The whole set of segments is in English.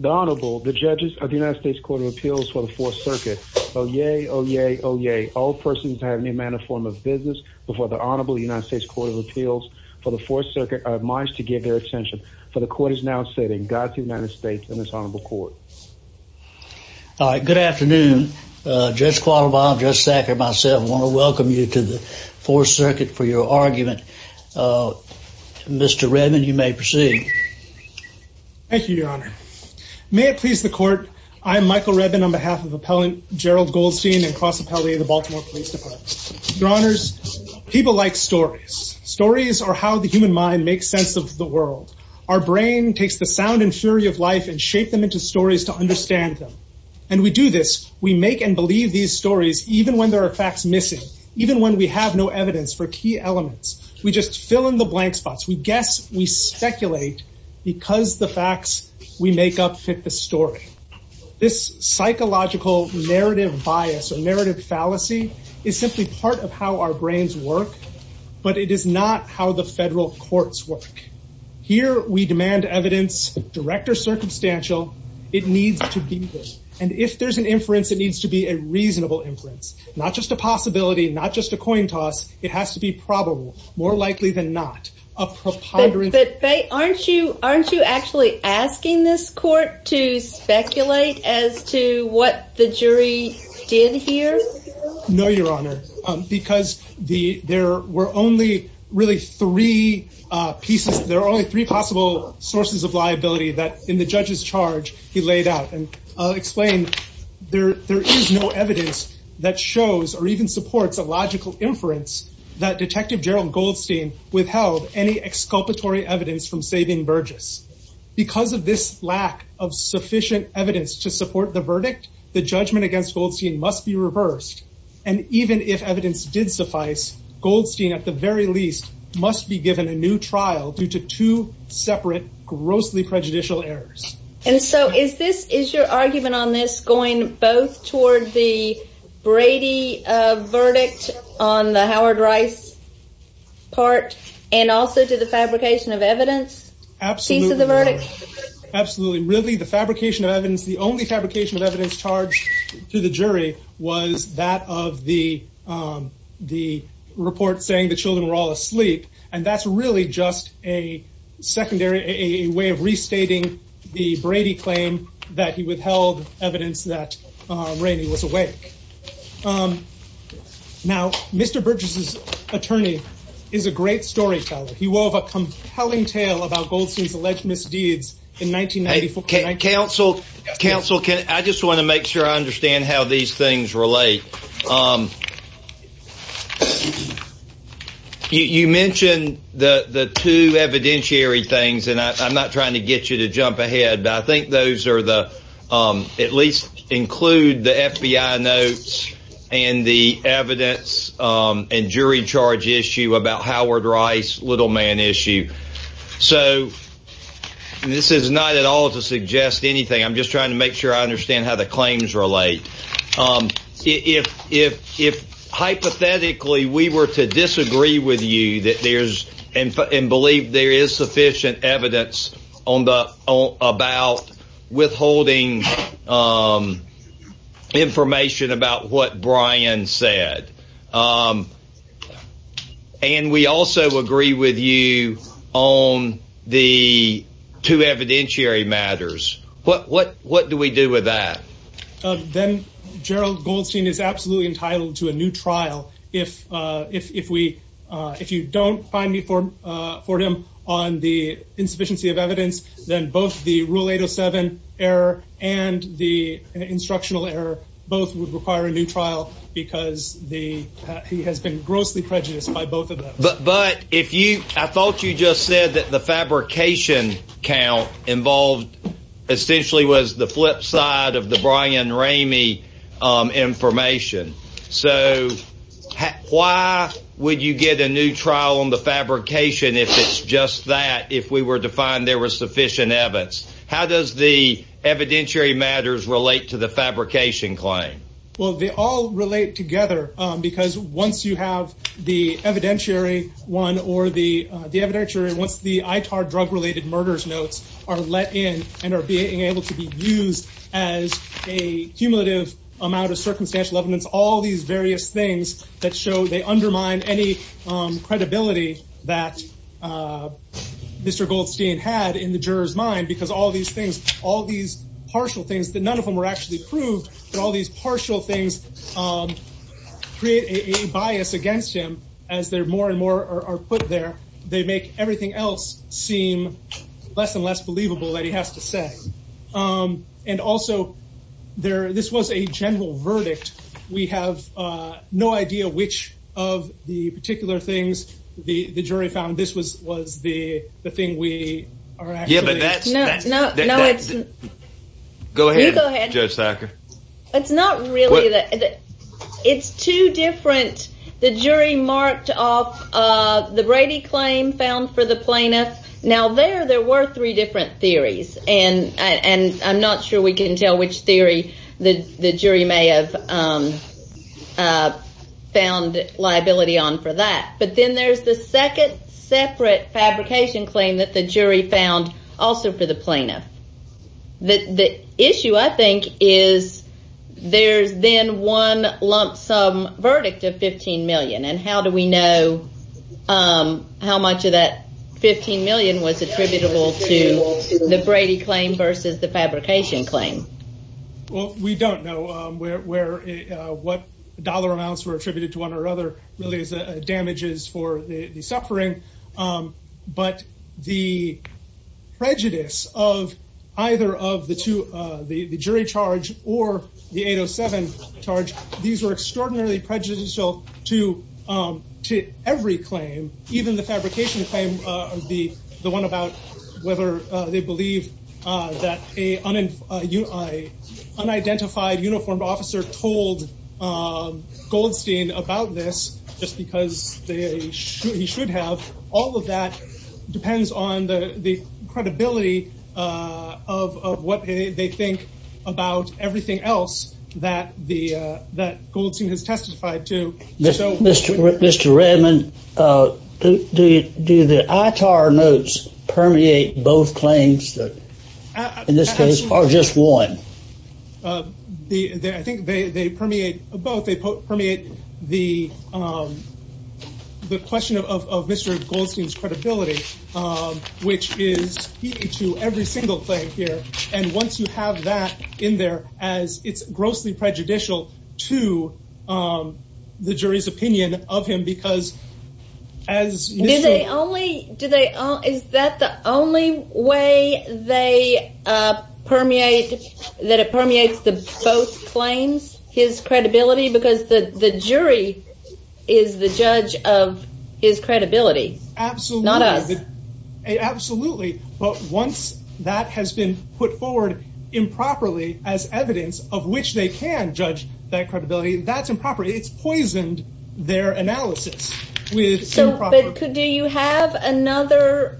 The Honorable, the judges of the United States Court of Appeals for the 4th Circuit. Oh yay, oh yay, oh yay. All persons have any manner, form, or business before the Honorable United States Court of Appeals for the 4th Circuit are admonished to give their attention, for the Court is now sitting. Godspeed to the United States and this Honorable Court. All right, good afternoon. Judge Qualivine, Judge Sacker, myself, want to welcome you to the 4th Circuit for your argument. Mr. Redman, you may proceed. Thank you, Your Honor. May it please the Court, I'm Michael Redman on behalf of Appellant Gerald Goldstein and Cross Appellee of the Baltimore Police Department. Your Honors, people like stories. Stories are how the human mind makes sense of the world. Our brain takes the sound and fury of life and shapes them into stories to understand them. And we do this, we make and believe these stories even when there are facts missing, even when we have no evidence for key elements. We just fill in the blank spots. We guess, we speculate because the facts we make up fit the story. This psychological narrative bias or narrative fallacy is simply part of how our brains work, but it is not how the federal courts work. Here we demand evidence, direct or circumstantial, it needs to be there. And if there's an inference, it needs to be a reasonable inference. Not just a possibility, not just a coin toss, it has to be probable, more likely than not, a preponderance. But aren't you actually asking this Court to speculate as to what the jury did here? No, Your Honor, because there were only really three pieces, there are only three possible sources of liability that in the judge's charge, he laid out and explained there is no evidence that shows or even supports a logical inference that Detective Gerald Goldstein withheld any exculpatory evidence from saving Burgess. Because of this lack of sufficient evidence to support the verdict, the judgment against Goldstein must be reversed. And even if evidence did suffice, Goldstein at the very least must be given a new trial due to two separate grossly prejudicial errors. And so is this, is your argument on this going both toward the Brady verdict on the Howard Rice part and also to the fabrication of evidence piece of the verdict? Absolutely. Really the fabrication of evidence, the only fabrication of evidence charged to the jury was that of the report saying the children were all asleep. And that's really just a secondary, a way of restating the Brady claim that he withheld evidence that Rainey was awake. Now, Mr. Burgess's attorney is a great storyteller. He wove a compelling tale about Goldstein's alleged misdeeds in 1994. Counsel, counsel, counsel, I just want to make sure I understand how these things relate. You mentioned the two evidentiary things, and I'm not trying to get you to jump ahead, but I think those are the, at least include the FBI notes and the evidence and jury charge issue about Howard Rice, little man issue. So this is not at all to suggest anything. I'm just trying to make sure I understand how the claims relate. If, if, if hypothetically, we were to disagree with you that there's and believe there is sufficient evidence on about withholding information about what Brian said. And we also agree with you on the two evidentiary matters. What, what, what do we do with that? Then Gerald Goldstein is absolutely entitled to a new trial. If, if, if we, if you don't find me for, for him on the insufficiency of evidence, then both the rule 807 error and the instructional error, both would require a new trial because the, he has been grossly prejudiced by both of them. But, but if you, I thought you just said that the fabrication count involved essentially was the flip side of the Brian Ramey information. So why would you get a new trial on the fabrication if it's just that, if we were to find there was sufficient evidence, how does the evidentiary matters relate to the fabrication claim? Well, they all relate together because once you have the evidentiary one or the, the evidentiary, once the ITAR drug related murders notes are let in and are being able to be used as a cumulative amount of circumstantial evidence, all these various things that show they undermine any credibility that Mr. Goldstein had in the jurors mind because all these things, all these partial things that none of them were actually proved, but all these partial things create a bias against him as they're more and more are put there. They make everything else seem less and less believable that he has to say. And also there, this was a no idea which of the particular things the jury found. This was, was the thing we are actually. Yeah, but that's. No, no, no, it's. Go ahead, Judge Sacker. It's not really that. It's two different. The jury marked off the Brady claim found for the plaintiff. Now there, there were three different theories and, and I'm not sure we can tell which theory the, the jury may have found liability on for that. But then there's the second separate fabrication claim that the jury found also for the plaintiff. The, the issue I think is there's then one lump sum verdict of 15 million and how do we know how much of that 15 million was attributable to the plaintiff? You know, where, where, what dollar amounts were attributed to one or other really is damages for the suffering. But the prejudice of either of the two, the jury charge or the 807 charge, these were extraordinarily prejudicial to, to every claim. Even the fabrication claim, the one about whether they believe that a unidentified uniformed officer told Goldstein about this just because they should, he should have. All of that depends on the, the credibility of, of what they think about everything else that the, that Goldstein has testified to. So, Mr. Redmond, do you, do the ITAR notes permeate both claims that in this case are just one? The, I think they, they permeate both. They permeate the, the question of, of Mr. Goldstein's credibility, which is to every single claim here. And once you have that in there, as it's grossly prejudicial to the jury's opinion of him, because as... Do they only, do they, is that the only way they permeate, that it permeates the both claims, his credibility? Because the, the jury is the judge of his credibility. Absolutely. Not us. We can't judge that credibility. That's improper. It's poisoned their analysis with... So, but could, do you have another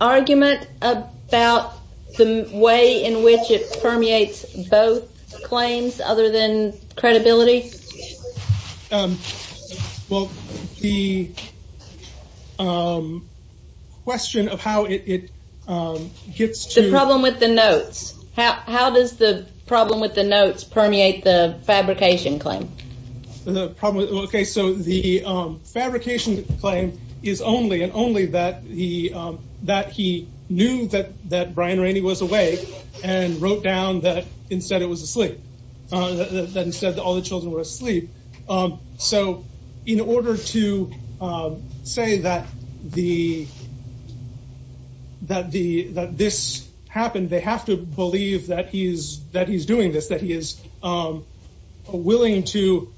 argument about the way in which it permeates both claims other than credibility? Well, the question of how it gets to... The problem with the notes permeate the fabrication claim. The problem, okay, so the fabrication claim is only, and only that he, that he knew that, that Brian Rainey was awake and wrote down that instead it was asleep, that instead all the children were asleep. So, in order to say that the, that the, that this happened, they have to believe that he's, that he's doing this, that he is willing to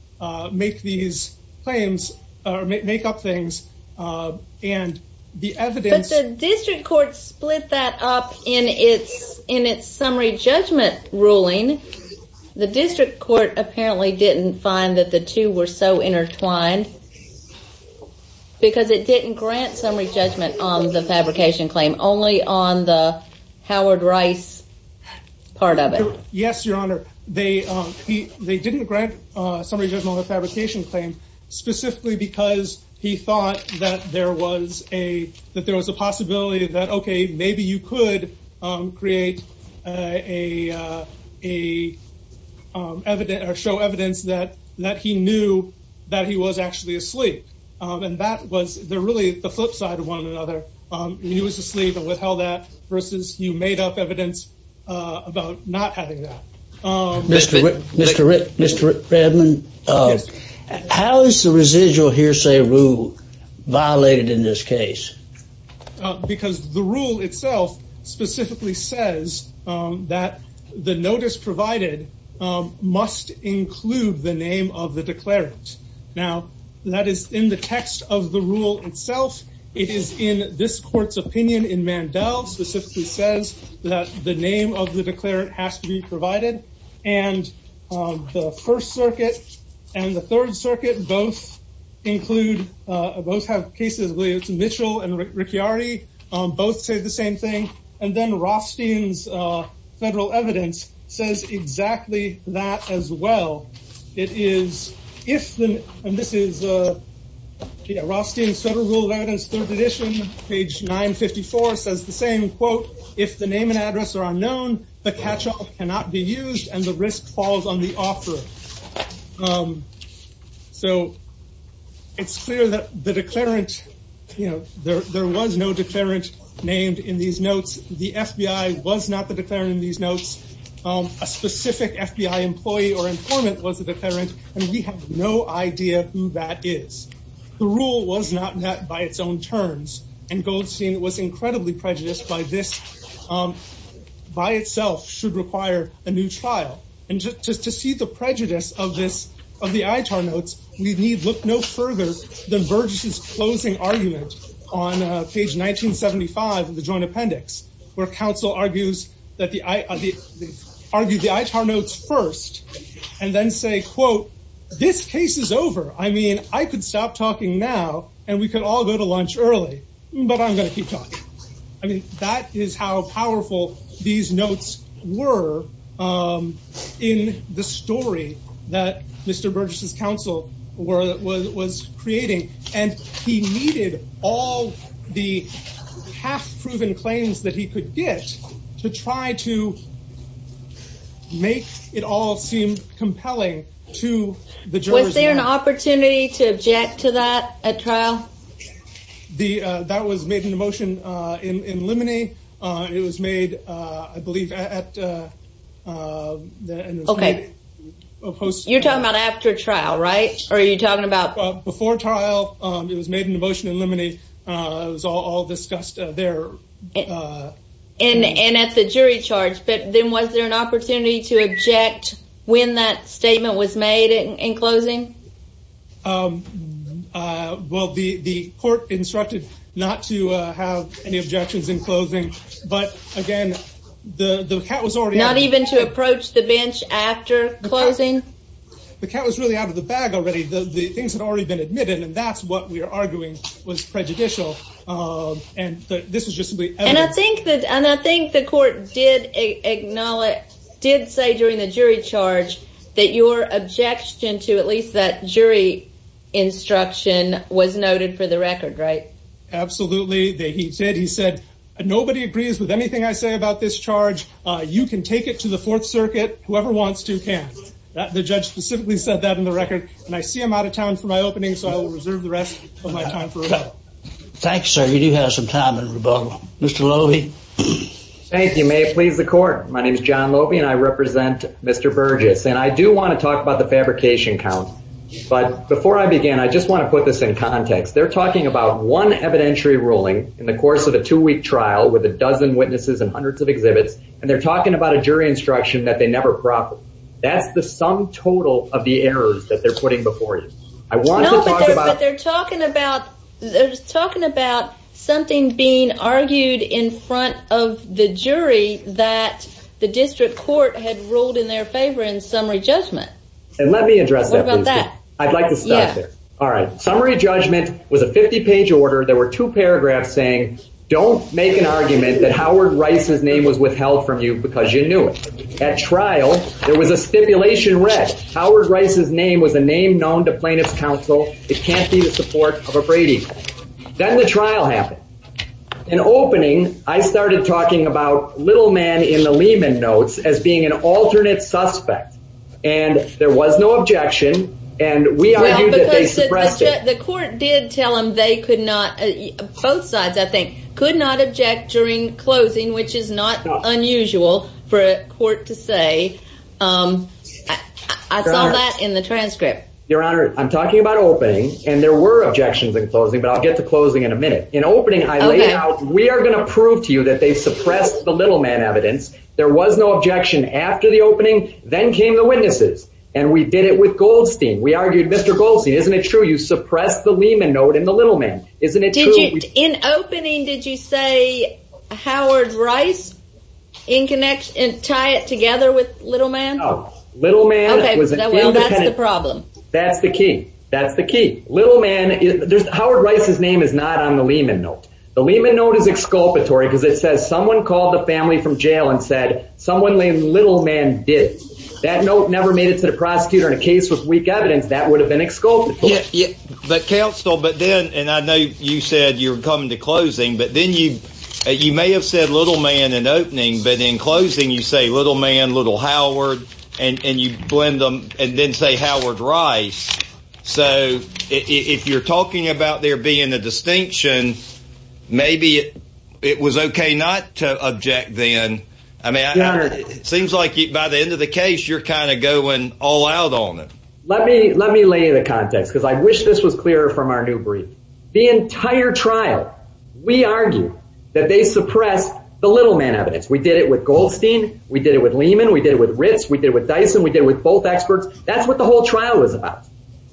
make these claims, or make up things, and the evidence... But the district court split that up in its, in its summary judgment ruling. The district court apparently didn't find that the two were so intertwined, because it didn't grant summary judgment on the fabrication claim, only on the Howard Rice part of it. Yes, Your Honor. They, he, they didn't grant summary judgment on the fabrication claim, specifically because he thought that there was a, that there was a possibility that, okay, maybe you could create a, a evidence, or show evidence that, that he knew that he was actually asleep. And that was the, really the flip side of one another. He was asleep and withheld that, about not having that. Mr. Rick, Mr. Rick, Mr. Redmond, how is the residual hearsay rule violated in this case? Because the rule itself specifically says that the notice provided must include the name of the declarant. Now, that is in the text of the rule itself. It is in this court's opinion in the text. The name of the declarant has to be provided. And the First Circuit and the Third Circuit both include, both have cases where it's Mitchell and Ricciardi, both say the same thing. And then Rothstein's federal evidence says exactly that as well. It is, if the, and this is Rothstein's Federal Rule of Evidence, Third Edition, page 954, says the same quote, if the name and address are unknown, the catch-all cannot be used and the risk falls on the offeror. So, it's clear that the declarant, you know, there, there was no declarant named in these notes. The FBI was not the declarant in these notes. A specific FBI employee or informant was the declarant. And we have no idea who that is. The rule was not met by its own terms. And Goldstein was incredibly prejudiced by this, by itself should require a new trial. And just to see the prejudice of this, of the ITAR notes, we need look no further than Burgess's closing argument on page 1975 of the Joint Appendix, where counsel argues that the, argued the ITAR notes first and then say, quote, this case is over. I mean, I could stop talking now and we could all go to lunch early, but I'm going to keep talking. I mean, that is how powerful these notes were in the story that Mr. Burgess's counsel were, was creating. And he needed all the half-proven claims that he could get to try to make it all seem compelling to the jurors. Was there an opportunity to object to that at trial? The, that was made into motion in Lemony. It was made, I believe, at, Okay. You're talking about after trial, right? Or are you talking about? Before trial, it was made into motion in Lemony. It was all discussed there. And at the jury charge, but then was there an opportunity to object when that statement was made in closing? Well, the court instructed not to have any objections in closing, but again, the cat was already out of the bag. Not even to approach the bench after closing? The cat was really out of the bag already. The things had already been admitted and that's what we were arguing was prejudicial. And this was just simply evident. And I think that, and I think the court did acknowledge, did say during the jury charge that your objection to at least that jury instruction was noted for the record, right? Absolutely. They, he said, he said, nobody agrees with anything I say about this charge. You can take it to the fourth circuit. Whoever wants to can. The judge specifically said that in the record. And I see him out of town for my opening. So I will reserve the rest of my time. Thanks, sir. You do have some time Mr. Loewe. Thank you. May it please the court. My name is John Loewe and I represent Mr. Burgess. And I do want to talk about the fabrication count, but before I begin, I just want to put this in context. They're talking about one evidentiary ruling in the course of a two week trial with a dozen witnesses and hundreds of exhibits. And they're talking about a jury instruction that they never profit. That's the sum total of the errors that they're putting before you. They're talking about, they're talking about something being argued in front of the jury that the district court had ruled in their favor in summary judgment. And let me address that. I'd like to stop there. All right. Summary judgment was a 50 page order. There were two paragraphs saying, don't make an argument that Howard Rice's name was withheld from you because you knew it. At trial, there was a stipulation read. Howard Rice's name was a name known to plaintiff's counsel. It can't be the support of a Brady. Then the trial happened. In opening, I started talking about little man in the Lehman notes as being an alternate suspect. And there was no objection. And we argued that they suppressed it. The court did tell him they could not, both sides, I think, could not object during closing, which is not unusual for a court to say. I saw that in the transcript. Your Honor, I'm talking about opening and there were objections in closing, but I'll get to closing in a minute. In opening, I laid out, we are going to prove to you that they suppressed the little man evidence. There was no objection after the opening. Then came the witnesses and we did it with Goldstein. We argued, Mr. Goldstein, isn't it suppressed the Lehman note and the little man? In opening, did you say Howard Rice in connection and tie it together with little man? Little man was independent. That's the key. That's the key. Howard Rice's name is not on the Lehman note. The Lehman note is exculpatory because it says someone called the family from jail and said someone named little man did. That note never made it to the prosecutor in a case with weak evidence that would have been exculpatory. But counsel, but then and I know you said you're coming to closing, but then you you may have said little man in opening, but in closing you say little man, little Howard, and you blend them and then say Howard Rice. So if you're talking about there being a distinction, maybe it was okay not to object then. I mean, it seems like by the end of the case, you're kind of going all out on it. Let me lay the context because I wish this was clearer from our new brief. The entire trial, we argue that they suppress the little man evidence. We did it with Goldstein. We did it with Lehman. We did it with Ritz. We did it with Dyson. We did it with both experts. That's what the whole trial was about.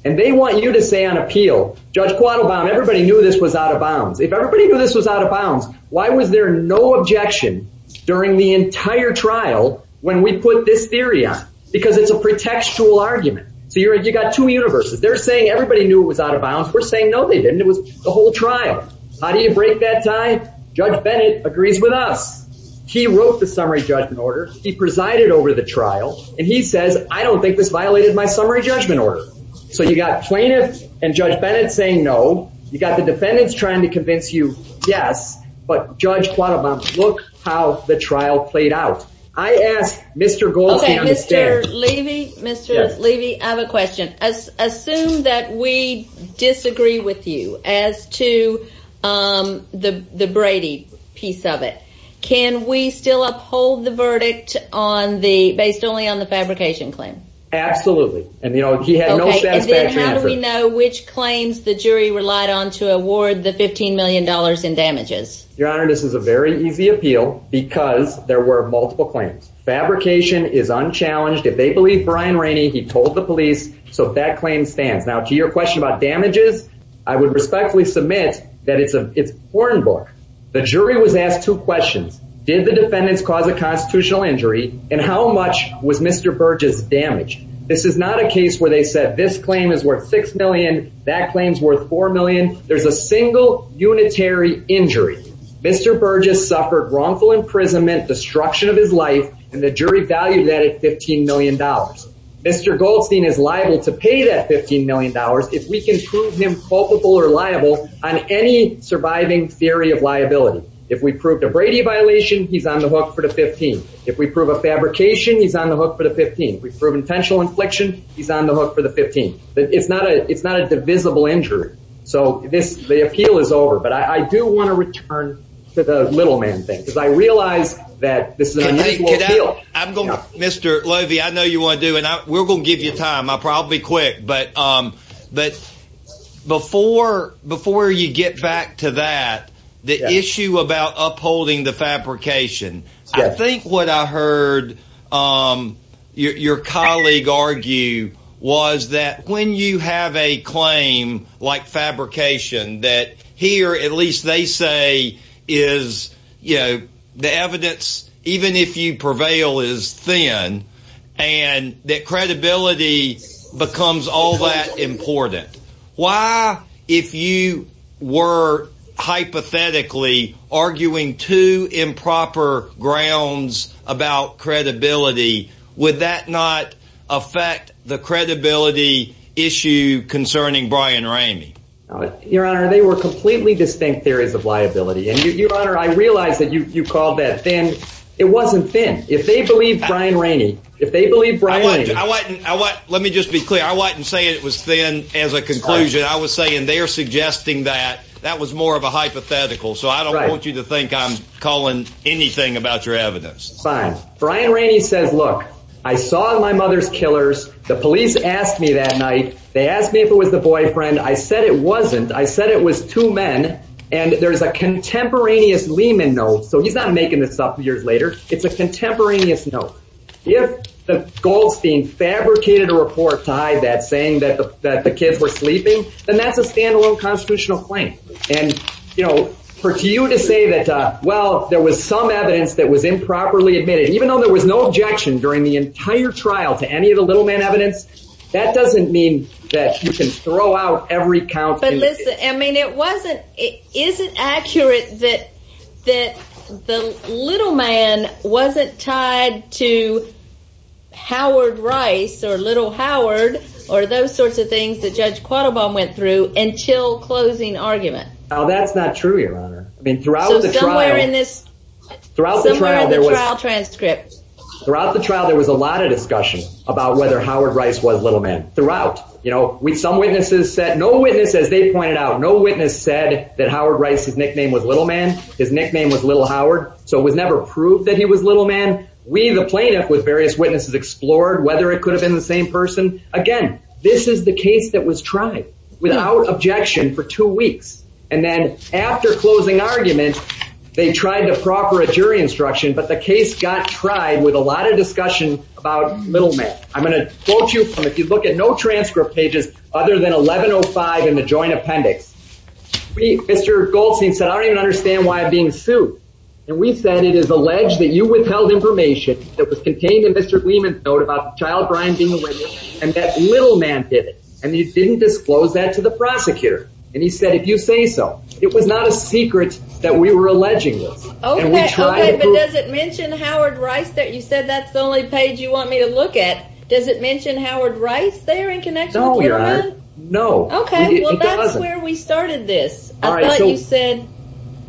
And they want you to say on appeal, Judge Quattlebaum, everybody knew this was out of bounds. If everybody knew this was out of bounds, why was there no objection during the entire trial when we put this theory on? Because it's a pretextual argument. You got two universes. They're saying everybody knew it was out of bounds. We're saying no, they didn't. It was the whole trial. How do you break that tie? Judge Bennett agrees with us. He wrote the summary judgment order. He presided over the trial, and he says, I don't think this violated my summary judgment order. So you got plaintiff and Judge Bennett saying no. You got the defendants trying to convince you yes, but Judge Quattlebaum, look how the trial played out. I asked Mr. Goldstein. Mr. Levy, Mr. Levy, I have a question. Assume that we disagree with you as to the Brady piece of it. Can we still uphold the verdict on the, based only on the fabrication claim? Absolutely. And you know, he had no satisfaction. How do we know which claims the jury relied on to award the $15 million in damages? Your Honor, this is a very easy appeal because there were multiple claims. Fabrication is unchallenged. If they believe Brian Rainey, he told the police. So that claim stands. Now to your question about damages, I would respectfully submit that it's a porn book. The jury was asked two questions. Did the defendants cause a constitutional injury? And how much was Mr. Burgess damaged? This is not a case where they said this claim is worth $6 million. That claim's worth $4 million. There's a single unitary injury. Mr. Burgess suffered wrongful imprisonment, destruction of his life, and the jury valued that at $15 million. Mr. Goldstein is liable to pay that $15 million if we can prove him culpable or liable on any surviving theory of liability. If we prove the Brady violation, he's on the hook for the $15 million. If we prove a fabrication, he's on the hook for the $15 million. If we prove intentional infliction, he's on the injury. So the appeal is over. But I do want to return to the little man thing, because I realize that this is an unusual appeal. Mr. Lovie, I know you want to do it. We're going to give you time. I'll probably be quick. But before you get back to that, the issue about upholding the fabrication, I think what I heard your colleague argue was that when you have a claim like fabrication, that here, at least they say, is the evidence, even if you prevail, is thin, and that credibility becomes all that important. Why, if you were hypothetically arguing two improper grounds about credibility, would that not affect the credibility issue concerning Brian Ramey? Your Honor, they were completely distinct theories of liability. And Your Honor, I realize that you called that thin. It wasn't thin. If they believe Brian Ramey, if they believe Brian Ramey. I wasn't, let me just be clear. I wasn't saying it was thin as a conclusion. I was saying they're suggesting that that was more of a hypothetical. So I don't want you to think I'm calling anything about your evidence. Fine. Brian Ramey says, look, I saw my mother's killers. The police asked me that night. They asked me if it was the boyfriend. I said it wasn't. I said it was two men. And there's a contemporaneous Lehman note. So he's not making this up years later. It's a contemporaneous note. If Goldstein fabricated a report to hide that, saying that the kids were sleeping, then that's a standalone constitutional claim. And, you know, for you to say that, well, there was some evidence that was improperly admitted, even though there was no objection during the entire trial to any of the little man evidence, that doesn't mean that you can throw out every count. But listen, I mean, it wasn't it isn't accurate that that the little man wasn't tied to Howard Rice or little Howard or those sorts of things that Judge Quattlebaum went through until closing argument. Now, that's not true, Your Honor. I mean, throughout the trial in this throughout the trial transcript, throughout the trial, there was a lot of discussion about whether Howard Rice was little man throughout. You know, we some witnesses said no witnesses. They pointed out no witness said that Howard Rice's nickname was little man. His nickname was little Howard. So it was never proved that he was little man. We the plaintiff with various witnesses explored whether it could have been the same person. Again, this is the case that was tried without objection for two weeks. And then after closing argument, they tried to proper a jury instruction, but the case got tried with a lot of discussion about little man. I'm going to quote you from if you look at no transcript pages other than 1105 in the joint appendix. Mr. Goldstein said, I don't even understand why I'm being sued. And we said it is alleged that you withheld information that was and that little man did it. And you didn't disclose that to the prosecutor. And he said, if you say so, it was not a secret that we were alleging this. Oh, does it mention Howard Rice that you said that's the only page you want me to look at? Does it mention Howard Rice there in connection? Oh, yeah. No. Okay. Well, that's where we started this. All right. You said,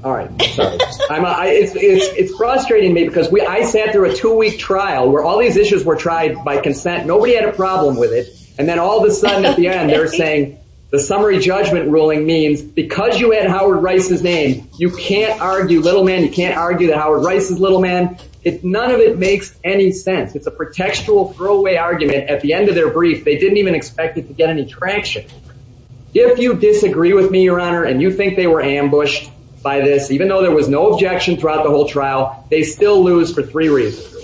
all right. It's frustrating me because we I sat through a two week trial where all these issues were tried by consent. Nobody had a problem with it. And then all of a sudden at the end, they're saying the summary judgment ruling means because you had Howard Rice's name, you can't argue little man. You can't argue that Howard Rice is little man. None of it makes any sense. It's a pretextual throwaway argument. At the end of their brief, they didn't even expect it to get any traction. If you disagree with me, your honor, and you think they were ambushed by this, even though there was no objection throughout the whole trial, they still lose for three reasons.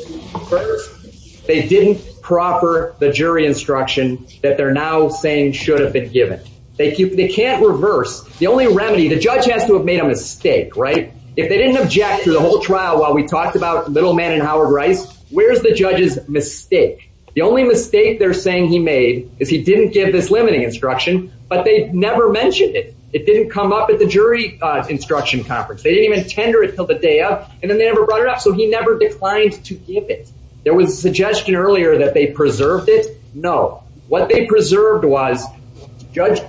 First, they didn't proffer the jury instruction that they're now saying should have been given. They can't reverse. The only remedy the judge has to have made a mistake, right? If they didn't object to the whole trial while we talked about little man and Howard Rice, where's the judge's mistake? The only mistake they're saying he made is he didn't give this limiting instruction, but they never mentioned it. It didn't come up at the jury instruction conference. They didn't even tender it till the day of and then they never brought it up. So he never declined to give it. There was a suggestion earlier that they preserved it. No. What they preserved was Judge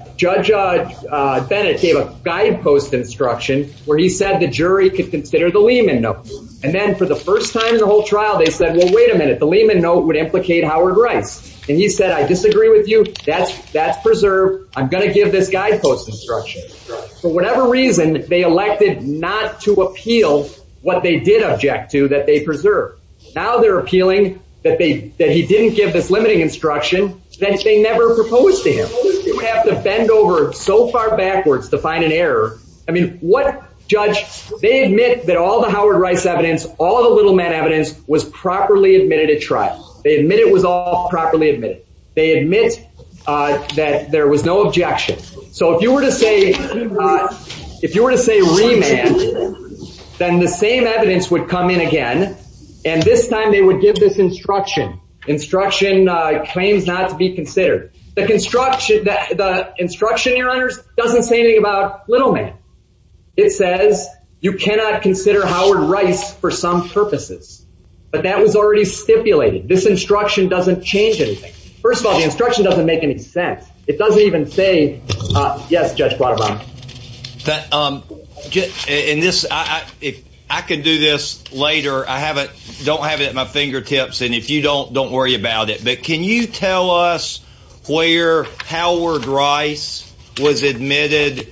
Bennett gave a guidepost instruction where he said the jury could consider the Lehman note. And then for the first time in the whole trial, they said, well, wait a minute. The Lehman note would implicate Howard Rice. And he said, I disagree with you. That's preserved. I'm going to give this guidepost instruction. For whatever reason, they elected not to appeal what they did object to that they preserve. Now they're appealing that he didn't give this limiting instruction that they never proposed to him. You have to bend over so far backwards to find an error. I mean, what judge, they admit that all the Howard Rice evidence, all the little man evidence was properly admitted at trial. They admit it was all properly admitted. They admit that there was no objection. So if you were to say, if you were to say remand, then the same evidence would come in again. And this time they would give this instruction, instruction claims not to be considered. The construction, the instruction, your honors, doesn't say anything about little man. It says you cannot consider Howard Rice for some purposes. But that was already stipulated. This instruction doesn't change anything. First of all, the instruction doesn't make any sense. It doesn't even say, yes, Judge. In this, if I could do this later, I haven't don't have it at my fingertips. And if you don't, don't worry about it. But can you tell us where Howard Rice was admitted?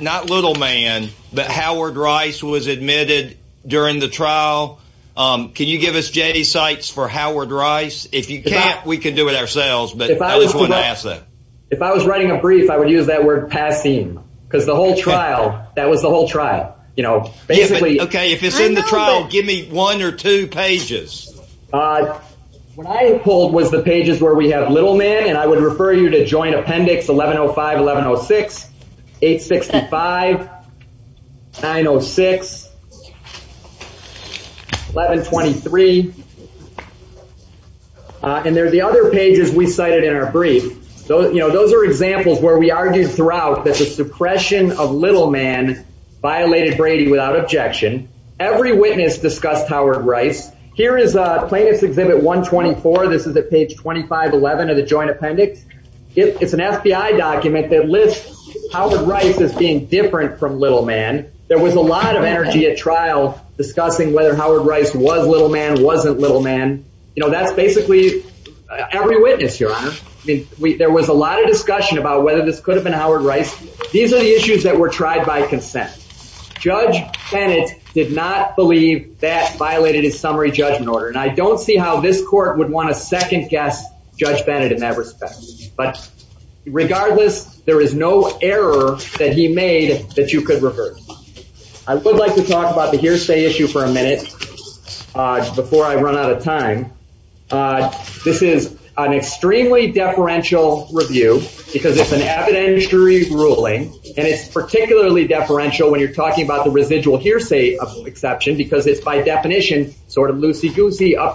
Not little man, but Howard Rice was admitted during the trial. Can you give us J sites for Howard Rice? If you can't, we can do it ourselves. But if I was writing a brief, I would use that word passing because the whole trial, that was the whole trial. You know, basically, okay, if it's in the trial, give me one or two pages. What I pulled was the pages where we have little man. And I would refer you to join appendix 1105 1106, 865, 906, 1123. And there are the other pages we cited in our brief. Those are examples where we argued throughout that the suppression of little man violated Brady without objection. Every witness discussed Howard Rice. Here is plaintiff's exhibit 124. This is at page 2511 of the joint appendix. It's an FBI document that lists Howard Rice as being different from little man. There was a lot of energy at trial discussing whether Howard Rice was little man wasn't little man. You know, that's basically every witness here. I mean, we there was a lot of discussion about whether this could have been Howard Rice. These are the issues that were tried by consent. Judge Bennett did not believe that violated his summary judgment order. And I don't see how this guessed Judge Bennett in that respect. But regardless, there is no error that he made that you could reverse. I would like to talk about the hearsay issue for a minute. Before I run out of time. This is an extremely deferential review, because it's an evidentiary ruling. And it's particularly deferential when you're talking about the residual hearsay of exception, because it's by up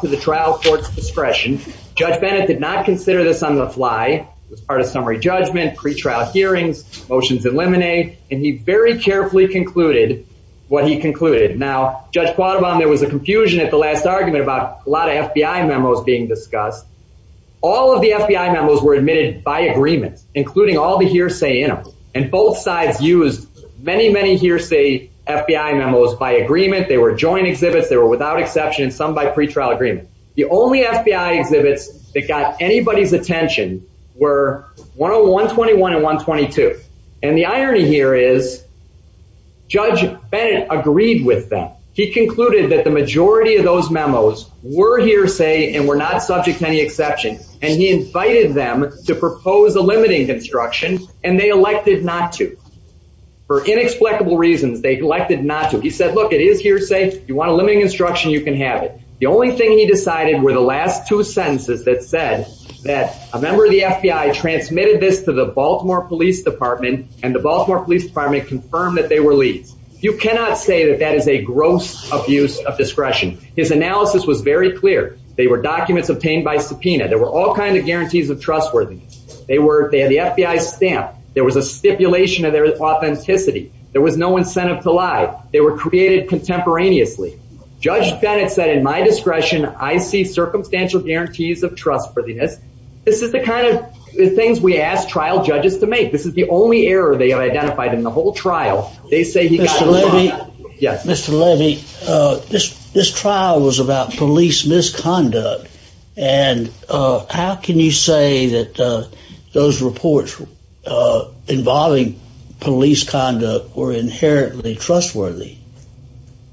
to the trial court's discretion. Judge Bennett did not consider this on the fly. It was part of summary judgment, pre-trial hearings, motions eliminate, and he very carefully concluded what he concluded. Now, Judge Quattrobonne, there was a confusion at the last argument about a lot of FBI memos being discussed. All of the FBI memos were admitted by agreement, including all the hearsay in them. And both sides used many, many hearsay FBI memos by agreement. They were joint exhibits. They were without exception, some by pre-trial agreement. The only FBI exhibits that got anybody's attention were 10121 and 122. And the irony here is Judge Bennett agreed with them. He concluded that the majority of those memos were hearsay and were not subject to any exception. And he invited them to propose a limiting construction and they elected not to. For inexplicable reasons, they elected not to. He said, look, it is hearsay. If you want a limiting instruction, you can have it. The only thing he decided were the last two sentences that said that a member of the FBI transmitted this to the Baltimore Police Department and the Baltimore Police Department confirmed that they were leads. You cannot say that that is a gross abuse of discretion. His analysis was very clear. They were documents obtained by subpoena. There were all kinds of guarantees of trustworthiness. They had the FBI stamp. There was a stipulation of their authenticity. There was no incentive to lie. They were created contemporaneously. Judge Bennett said, in my discretion, I see circumstantial guarantees of trustworthiness. This is the kind of things we ask trial judges to make. This is the only error they have identified in the whole trial. They say, Mr. Levy, this trial was about police misconduct. And how can you say that those reports involving police conduct were inherently trustworthy?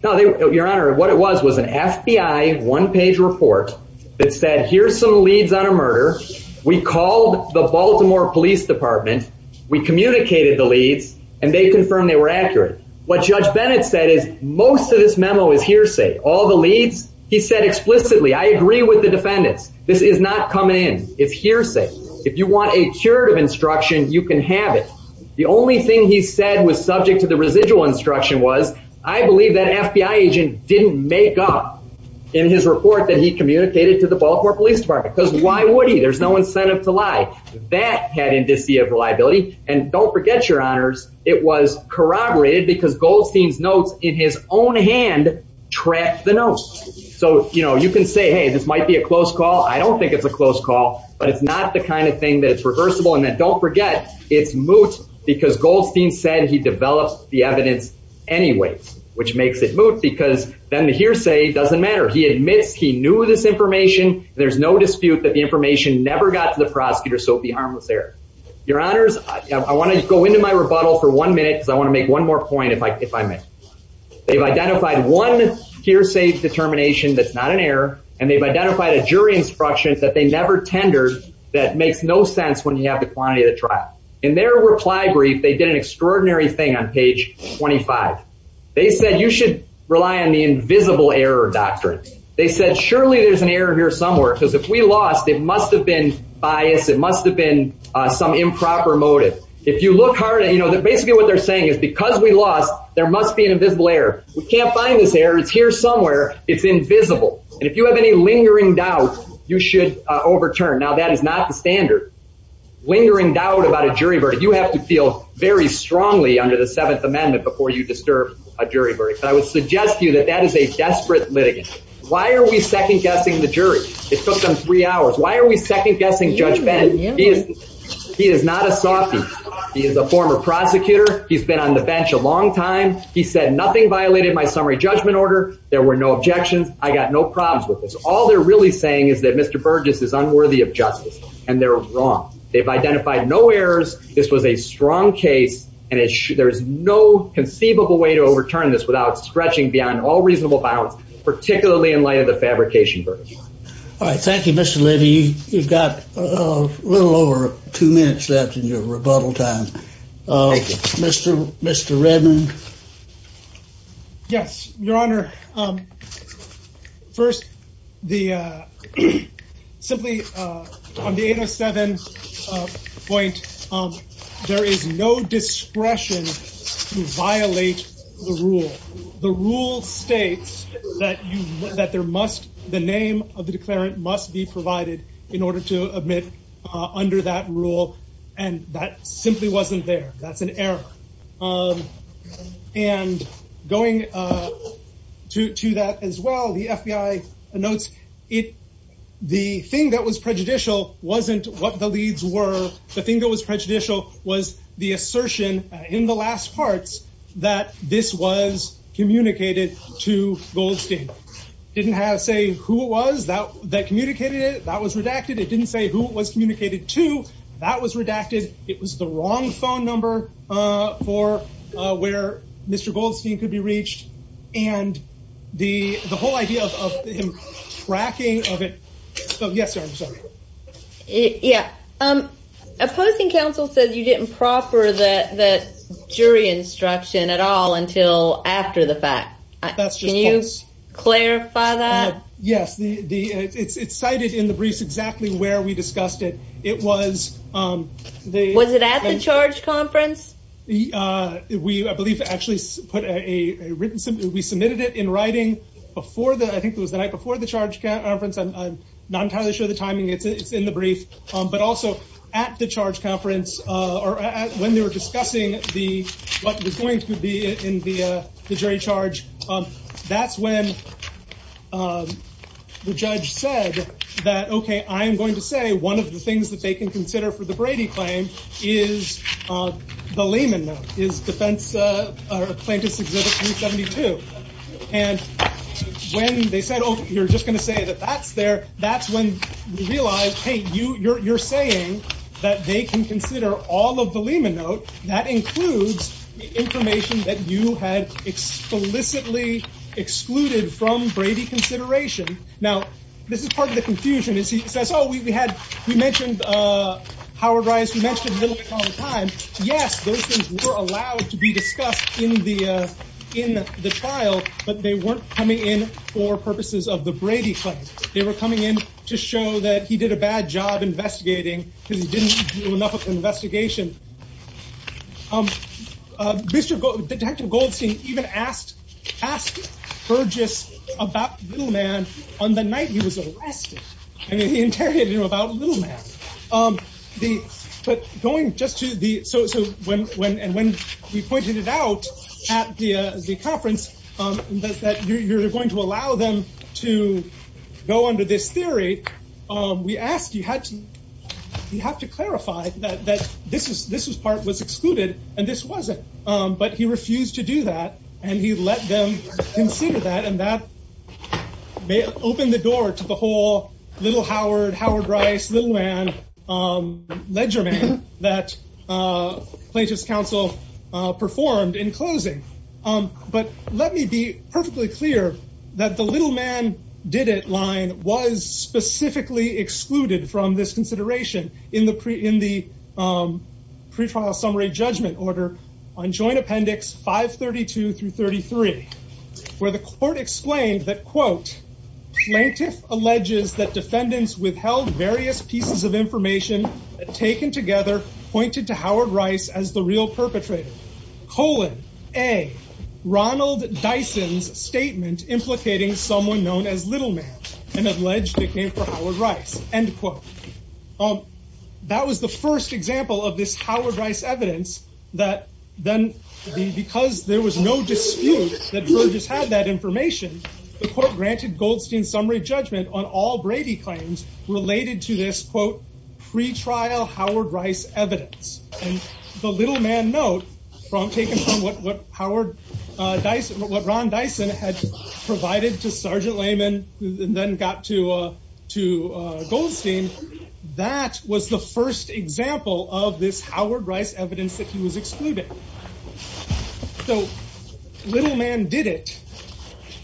No, Your Honor, what it was was an FBI one-page report that said, here's some leads on a murder. We called the Baltimore Police Department. We communicated the leads. And they confirmed they were accurate. What Judge Bennett said is most of this memo is hearsay. All the leads, he said I agree with the defendants. This is not coming in. It's hearsay. If you want a curative instruction, you can have it. The only thing he said was subject to the residual instruction was, I believe that an FBI agent didn't make up in his report that he communicated to the Baltimore Police Department. Because why would he? There's no incentive to lie. That had indice of reliability. And don't forget, Your Honors, it was corroborated because Goldstein's hand tracked the notes. So you can say, hey, this might be a close call. I don't think it's a close call. But it's not the kind of thing that's reversible. And then don't forget, it's moot because Goldstein said he developed the evidence anyways, which makes it moot because then the hearsay doesn't matter. He admits he knew this information. There's no dispute that the information never got to the prosecutor. So it would be harmless error. Your Honors, I want to go into my rebuttal for one minute because I want to make one more point if I may. They've identified one hearsay determination that's not an error, and they've identified a jury instruction that they never tendered that makes no sense when you have the quantity of the trial. In their reply brief, they did an extraordinary thing on page 25. They said, you should rely on the invisible error doctrine. They said, surely there's an error here somewhere because if we lost, it must have been biased. It must have been some improper motive. If you look hard at it, basically what they're saying is because we lost, there must be an invisible error. We can't find this error. It's here somewhere. It's invisible. And if you have any lingering doubt, you should overturn. Now, that is not the standard. Lingering doubt about a jury verdict, you have to feel very strongly under the Seventh Amendment before you disturb a jury verdict. But I would suggest to you that that is a desperate litigant. Why are we second guessing the jury? It took them three hours. Why are we second guessing Judge Berges? He is not a softie. He is a former prosecutor. He's been on the bench a long time. He said nothing violated my summary judgment order. There were no objections. I got no problems with this. All they're really saying is that Mr. Berges is unworthy of justice, and they're wrong. They've identified no errors. This was a strong case, and there's no conceivable way to overturn this without stretching beyond all reasonable bounds, particularly in light of fabrication verdicts. All right. Thank you, Mr. Levy. You've got a little over two minutes left in your rebuttal time. Thank you. Mr. Redmond? Yes, Your Honor. First, simply on the 807 point, there is no discretion to violate the rule. The rule states that the name of the declarant must be provided in order to admit under that rule, and that simply wasn't there. That's an error. And going to that as well, the FBI notes the thing that was prejudicial wasn't what the leads were. The thing that was prejudicial was the assertion in the last parts that this was communicated to Goldstein. It didn't say who it was that communicated it. That was redacted. It didn't say who it was communicated to. That was redacted. It was the wrong phone number for where Mr. Goldstein could be reached, and the whole idea of him tracking of it. Yes, Your Honor, sorry. Yeah. Opposing counsel said you didn't proffer the jury instruction at all until after the fact. That's just false. Can you clarify that? Yes. It's cited in the briefs exactly where we discussed it. It was the... Was it at the charge conference? We, I believe, actually put a written... We submitted it in writing before the... I think it was the night before the charge conference. I'm not entirely sure the timing. It's in the brief, but also at the charge conference or when they were discussing what was going to be in the jury charge. That's when the judge said that, okay, I am going to say one of the things that they can consider for the Brady claim is the Lehman note, is defense plaintiff's exhibit 372. And when they said, oh, you're just going to say that that's there, that's when we realized, hey, you're saying that they can consider all of the Lehman note. That includes information that you had explicitly excluded from Brady consideration. Now, this is the confusion. He says, oh, we had... We mentioned Howard Rice. We mentioned Littleman all the time. Yes, those things were allowed to be discussed in the trial, but they weren't coming in for purposes of the Brady claim. They were coming in to show that he did a bad job investigating because he didn't do enough of the investigation. Detective Goldstein even asked Burgess about Littleman on the night he was arrested. He interrogated him about Littleman. When we pointed it out at the conference that you're going to allow them to go under this theory, we asked, you have to clarify that this part was excluded and this wasn't, but he refused to do that and he let them consider that and that may open the door to the whole Little Howard, Howard Rice, Littleman ledger man that Plaintiff's counsel performed in closing. But let me be perfectly clear that the Littleman did it line was specifically excluded from this consideration in the pretrial summary judgment order on joint appendix 532 through 33, where the court explained that, quote, Plaintiff alleges that defendants withheld various pieces of information taken together, pointed to Howard Rice as the real perpetrator, colon, A, Ronald Dyson's statement implicating someone known as Littleman and alleged it came from Howard that was the first example of this Howard Rice evidence that then because there was no dispute that Burgess had that information, the court granted Goldstein summary judgment on all Brady claims related to this, quote, pretrial Howard Rice evidence and the Littleman note from taking from what Howard Dyson, what Ron Dyson had provided to Sergeant Lehman and then got to Goldstein, that was the first example of this Howard Rice evidence that he was excluded. So Littleman did it,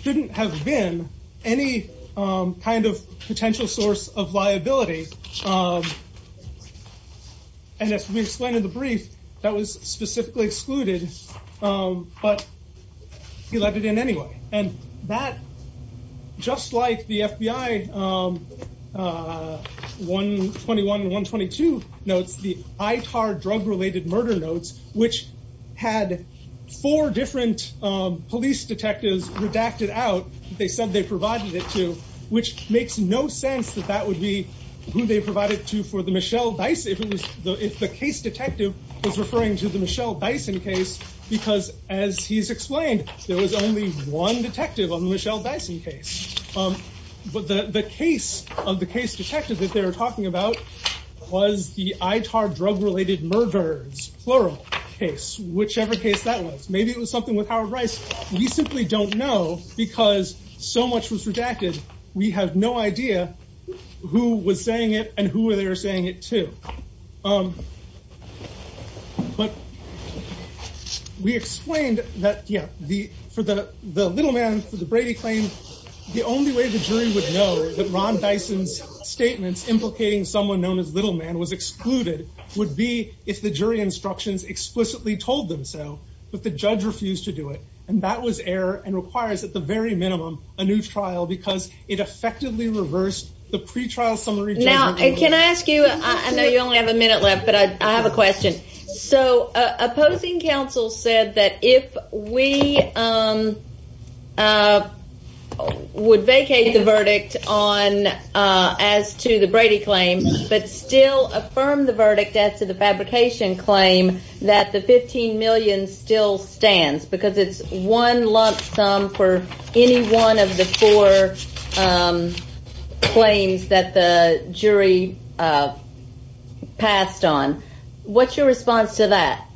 couldn't have been any kind of potential source of liability and as we explained in the brief, that was specifically excluded, but he let it in anyway and that, just like the FBI 121 and 122 notes, the ITAR drug related murder notes, which had four different police detectives redacted out, they said they provided it to, which makes no sense that that would be who they provided to for the Michelle Dyson, if the case detective was referring to the Michelle Dyson case, because as he's explained, there was only one detective on the Michelle Dyson case, but the case of the case detective that they were talking about was the ITAR drug related murders, plural case, whichever case that was, maybe it was something with Howard Rice, we simply don't know because so much was redacted, we have no idea who was saying it and who they were saying it to. But we explained that, yeah, for the Littleman, for the Brady claim, the only way the jury would know that Ron Dyson's statements implicating someone known as Littleman was excluded, would be if the jury instructions explicitly told them so, but the judge refused to do it and that was error and requires at the very minimum, a new trial because it effectively reversed the pretrial summary. Now, can I ask you, I know you only have a minute left, but I have a question. So opposing counsel said that if we would vacate the verdict on as to the Brady claim, but still affirm the verdict as to the fabrication claim that the 15 million still stands because it's one lump sum for any one of the four claims that the jury passed on, what's your response to that?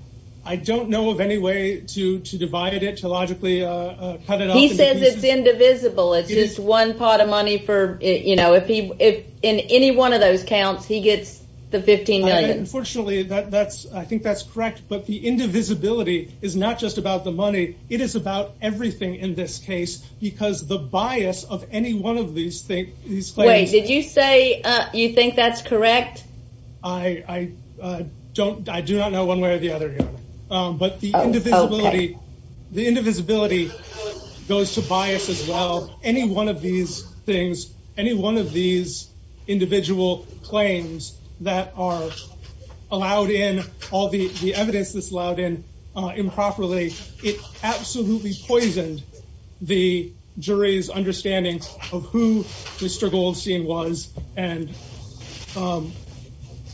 I don't know of any way to divide it, to logically cut it up. He says it's indivisible, it's just one pot of money for, you know, if he, if in any one of those counts, he gets the 15 million. Unfortunately, that's I think that's correct, but the indivisibility is not just about the money. It is about everything in this case, because the bias of any one of these things, these claims. Wait, did you say you think that's correct? I don't, I do not know one way or the other, but the indivisibility, the indivisibility goes to bias as well. Any one of these things, any one of these individual claims that are allowed in all the evidence that's allowed in, improperly, it absolutely poisoned the jury's understanding of who Mr. Goldstein was and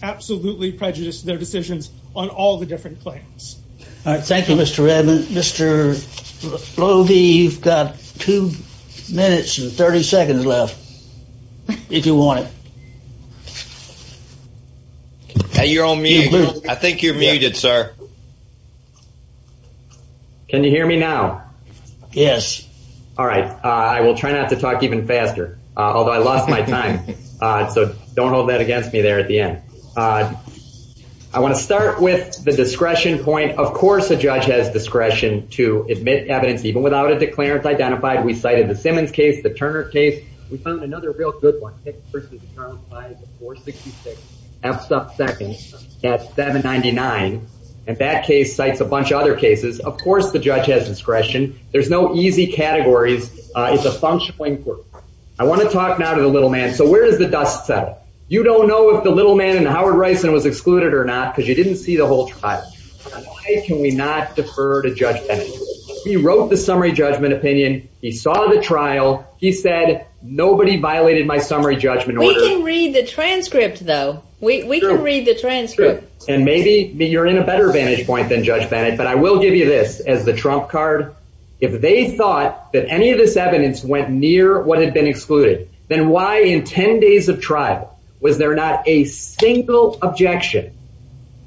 absolutely prejudiced their decisions on all the different claims. All right, thank you, Mr. Redmond. Mr. Lovie, you've got two minutes and 30 seconds left, if you want it. Hey, you're on mute. I think you're muted, sir. Can you hear me now? Yes. All right, I will try not to talk even faster, although I lost my time, so don't hold that against me there at the end. I want to start with the discretion point. Of course, a judge has discretion to admit evidence, even without a declarant identified. We cited the Simmons case, the Turner case, we found another real good one, 6 v. 466, F's up second at 799, and that case cites a bunch of other cases. Of course, the judge has discretion. There's no easy categories. It's a functional inquiry. I want to talk now to the little man. So where does the dust settle? You don't know if the little man and Howard Rison was excluded or not because you didn't see the whole trial. Why can we not defer to Judge Bennett? He wrote the summary judgment opinion. He saw the trial. He said, nobody violated my summary judgment order. We can read the transcript, though. We can read the transcript. And maybe you're in a better vantage point than Judge Bennett, but I will give you this as the trump card. If they thought that any of this evidence went near what had been excluded, then why in 10 days of trial was there not a single objection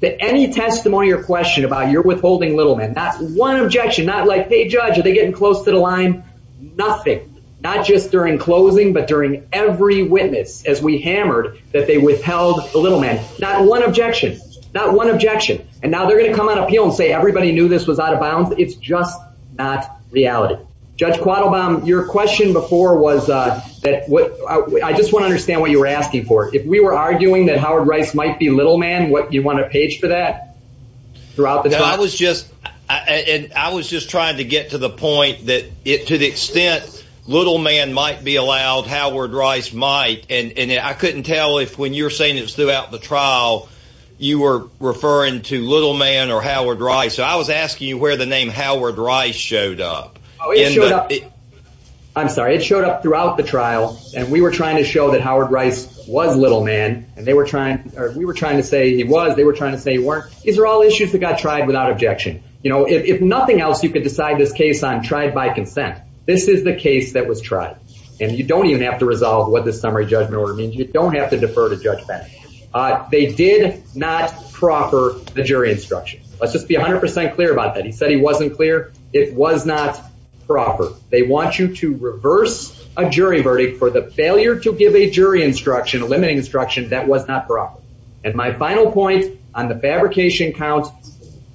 to any testimony or question about your withholding little man? That's one objection. Not like, hey, judge, are they getting close to the line? Nothing. Not just during closing, but during every witness as we hammered that they withheld the little man. Not one objection. Not one objection. And now they're going to come on appeal and say everybody knew this was out of bounds. It's just not reality. Judge Quattlebaum, your question before was that I just want to understand what you were asking for. If we were arguing that Howard Rice might be little man, what do you want to page for that throughout the trial? I was just trying to get to the point that to the extent little man might be allowed, Howard Rice might. And I couldn't tell if when you're saying it's throughout the trial, you were referring to little man or Howard Rice. So I was asking you where the name Howard Rice showed up. Oh, it showed up. I'm sorry. It showed up throughout the trial. And we were trying to show that Howard Rice was little man. And we were trying to say he was. They were trying to say he weren't. These are all issues that got tried without objection. If nothing else, you could decide this case on tried by consent. This is the case that was tried. And you don't even have to resolve what this summary judgment order means. You don't have to defer to Judge Bennett. They did not proper the jury instruction. Let's just be 100% clear about that. He said he wasn't clear. It was not proper. They want you to reverse a jury verdict for the failure to give a jury instruction, a limiting instruction that was not proper. And my final point on the fabrication count,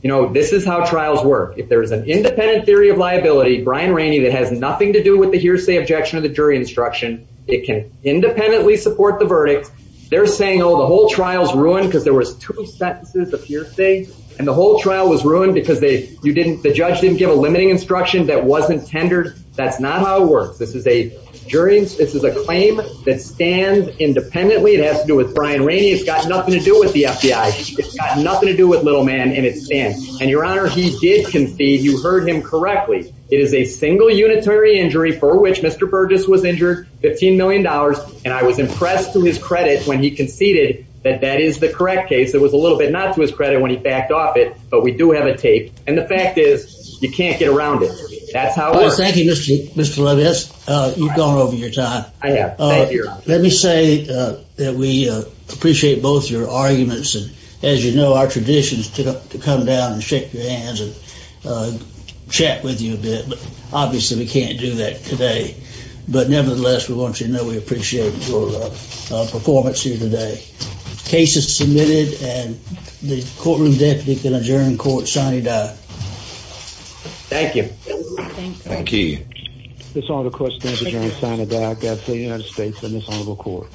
you know, this is how trials work. If there is an independent theory of liability, Brian Rainey, that has nothing to do with the hearsay objection of the jury instruction, it can independently support the verdict. They're saying, oh, the whole trial's ruined because there was two sentences of hearsay, and the whole trial was ruined because the judge didn't give a limiting instruction that wasn't tendered. That's not how it works. This is a claim that stands independently. It has to do with Brian Rainey. It's got nothing to do with the FBI. It's got nothing to do with little man, and it stands. And, Your Honor, he did concede. You heard him correctly. It is a single unitary injury for which Mr. Burgess was injured, $15 million. And I was a little bit not to his credit when he backed off it, but we do have a tape. And the fact is, you can't get around it. That's how it works. Thank you, Mr. Levitz. You've gone over your time. I have. Thank you, Your Honor. Let me say that we appreciate both your arguments and, as you know, our traditions to come down and shake your hands and chat with you a bit. Obviously, we can't do that today. But nevertheless, we want you to know we appreciate your performance here today. Case is submitted, and the courtroom deputy can adjourn in court, signing it out. Thank you. Thank you. This honorable court stands adjourned, signing it back out to the United States and this honorable court.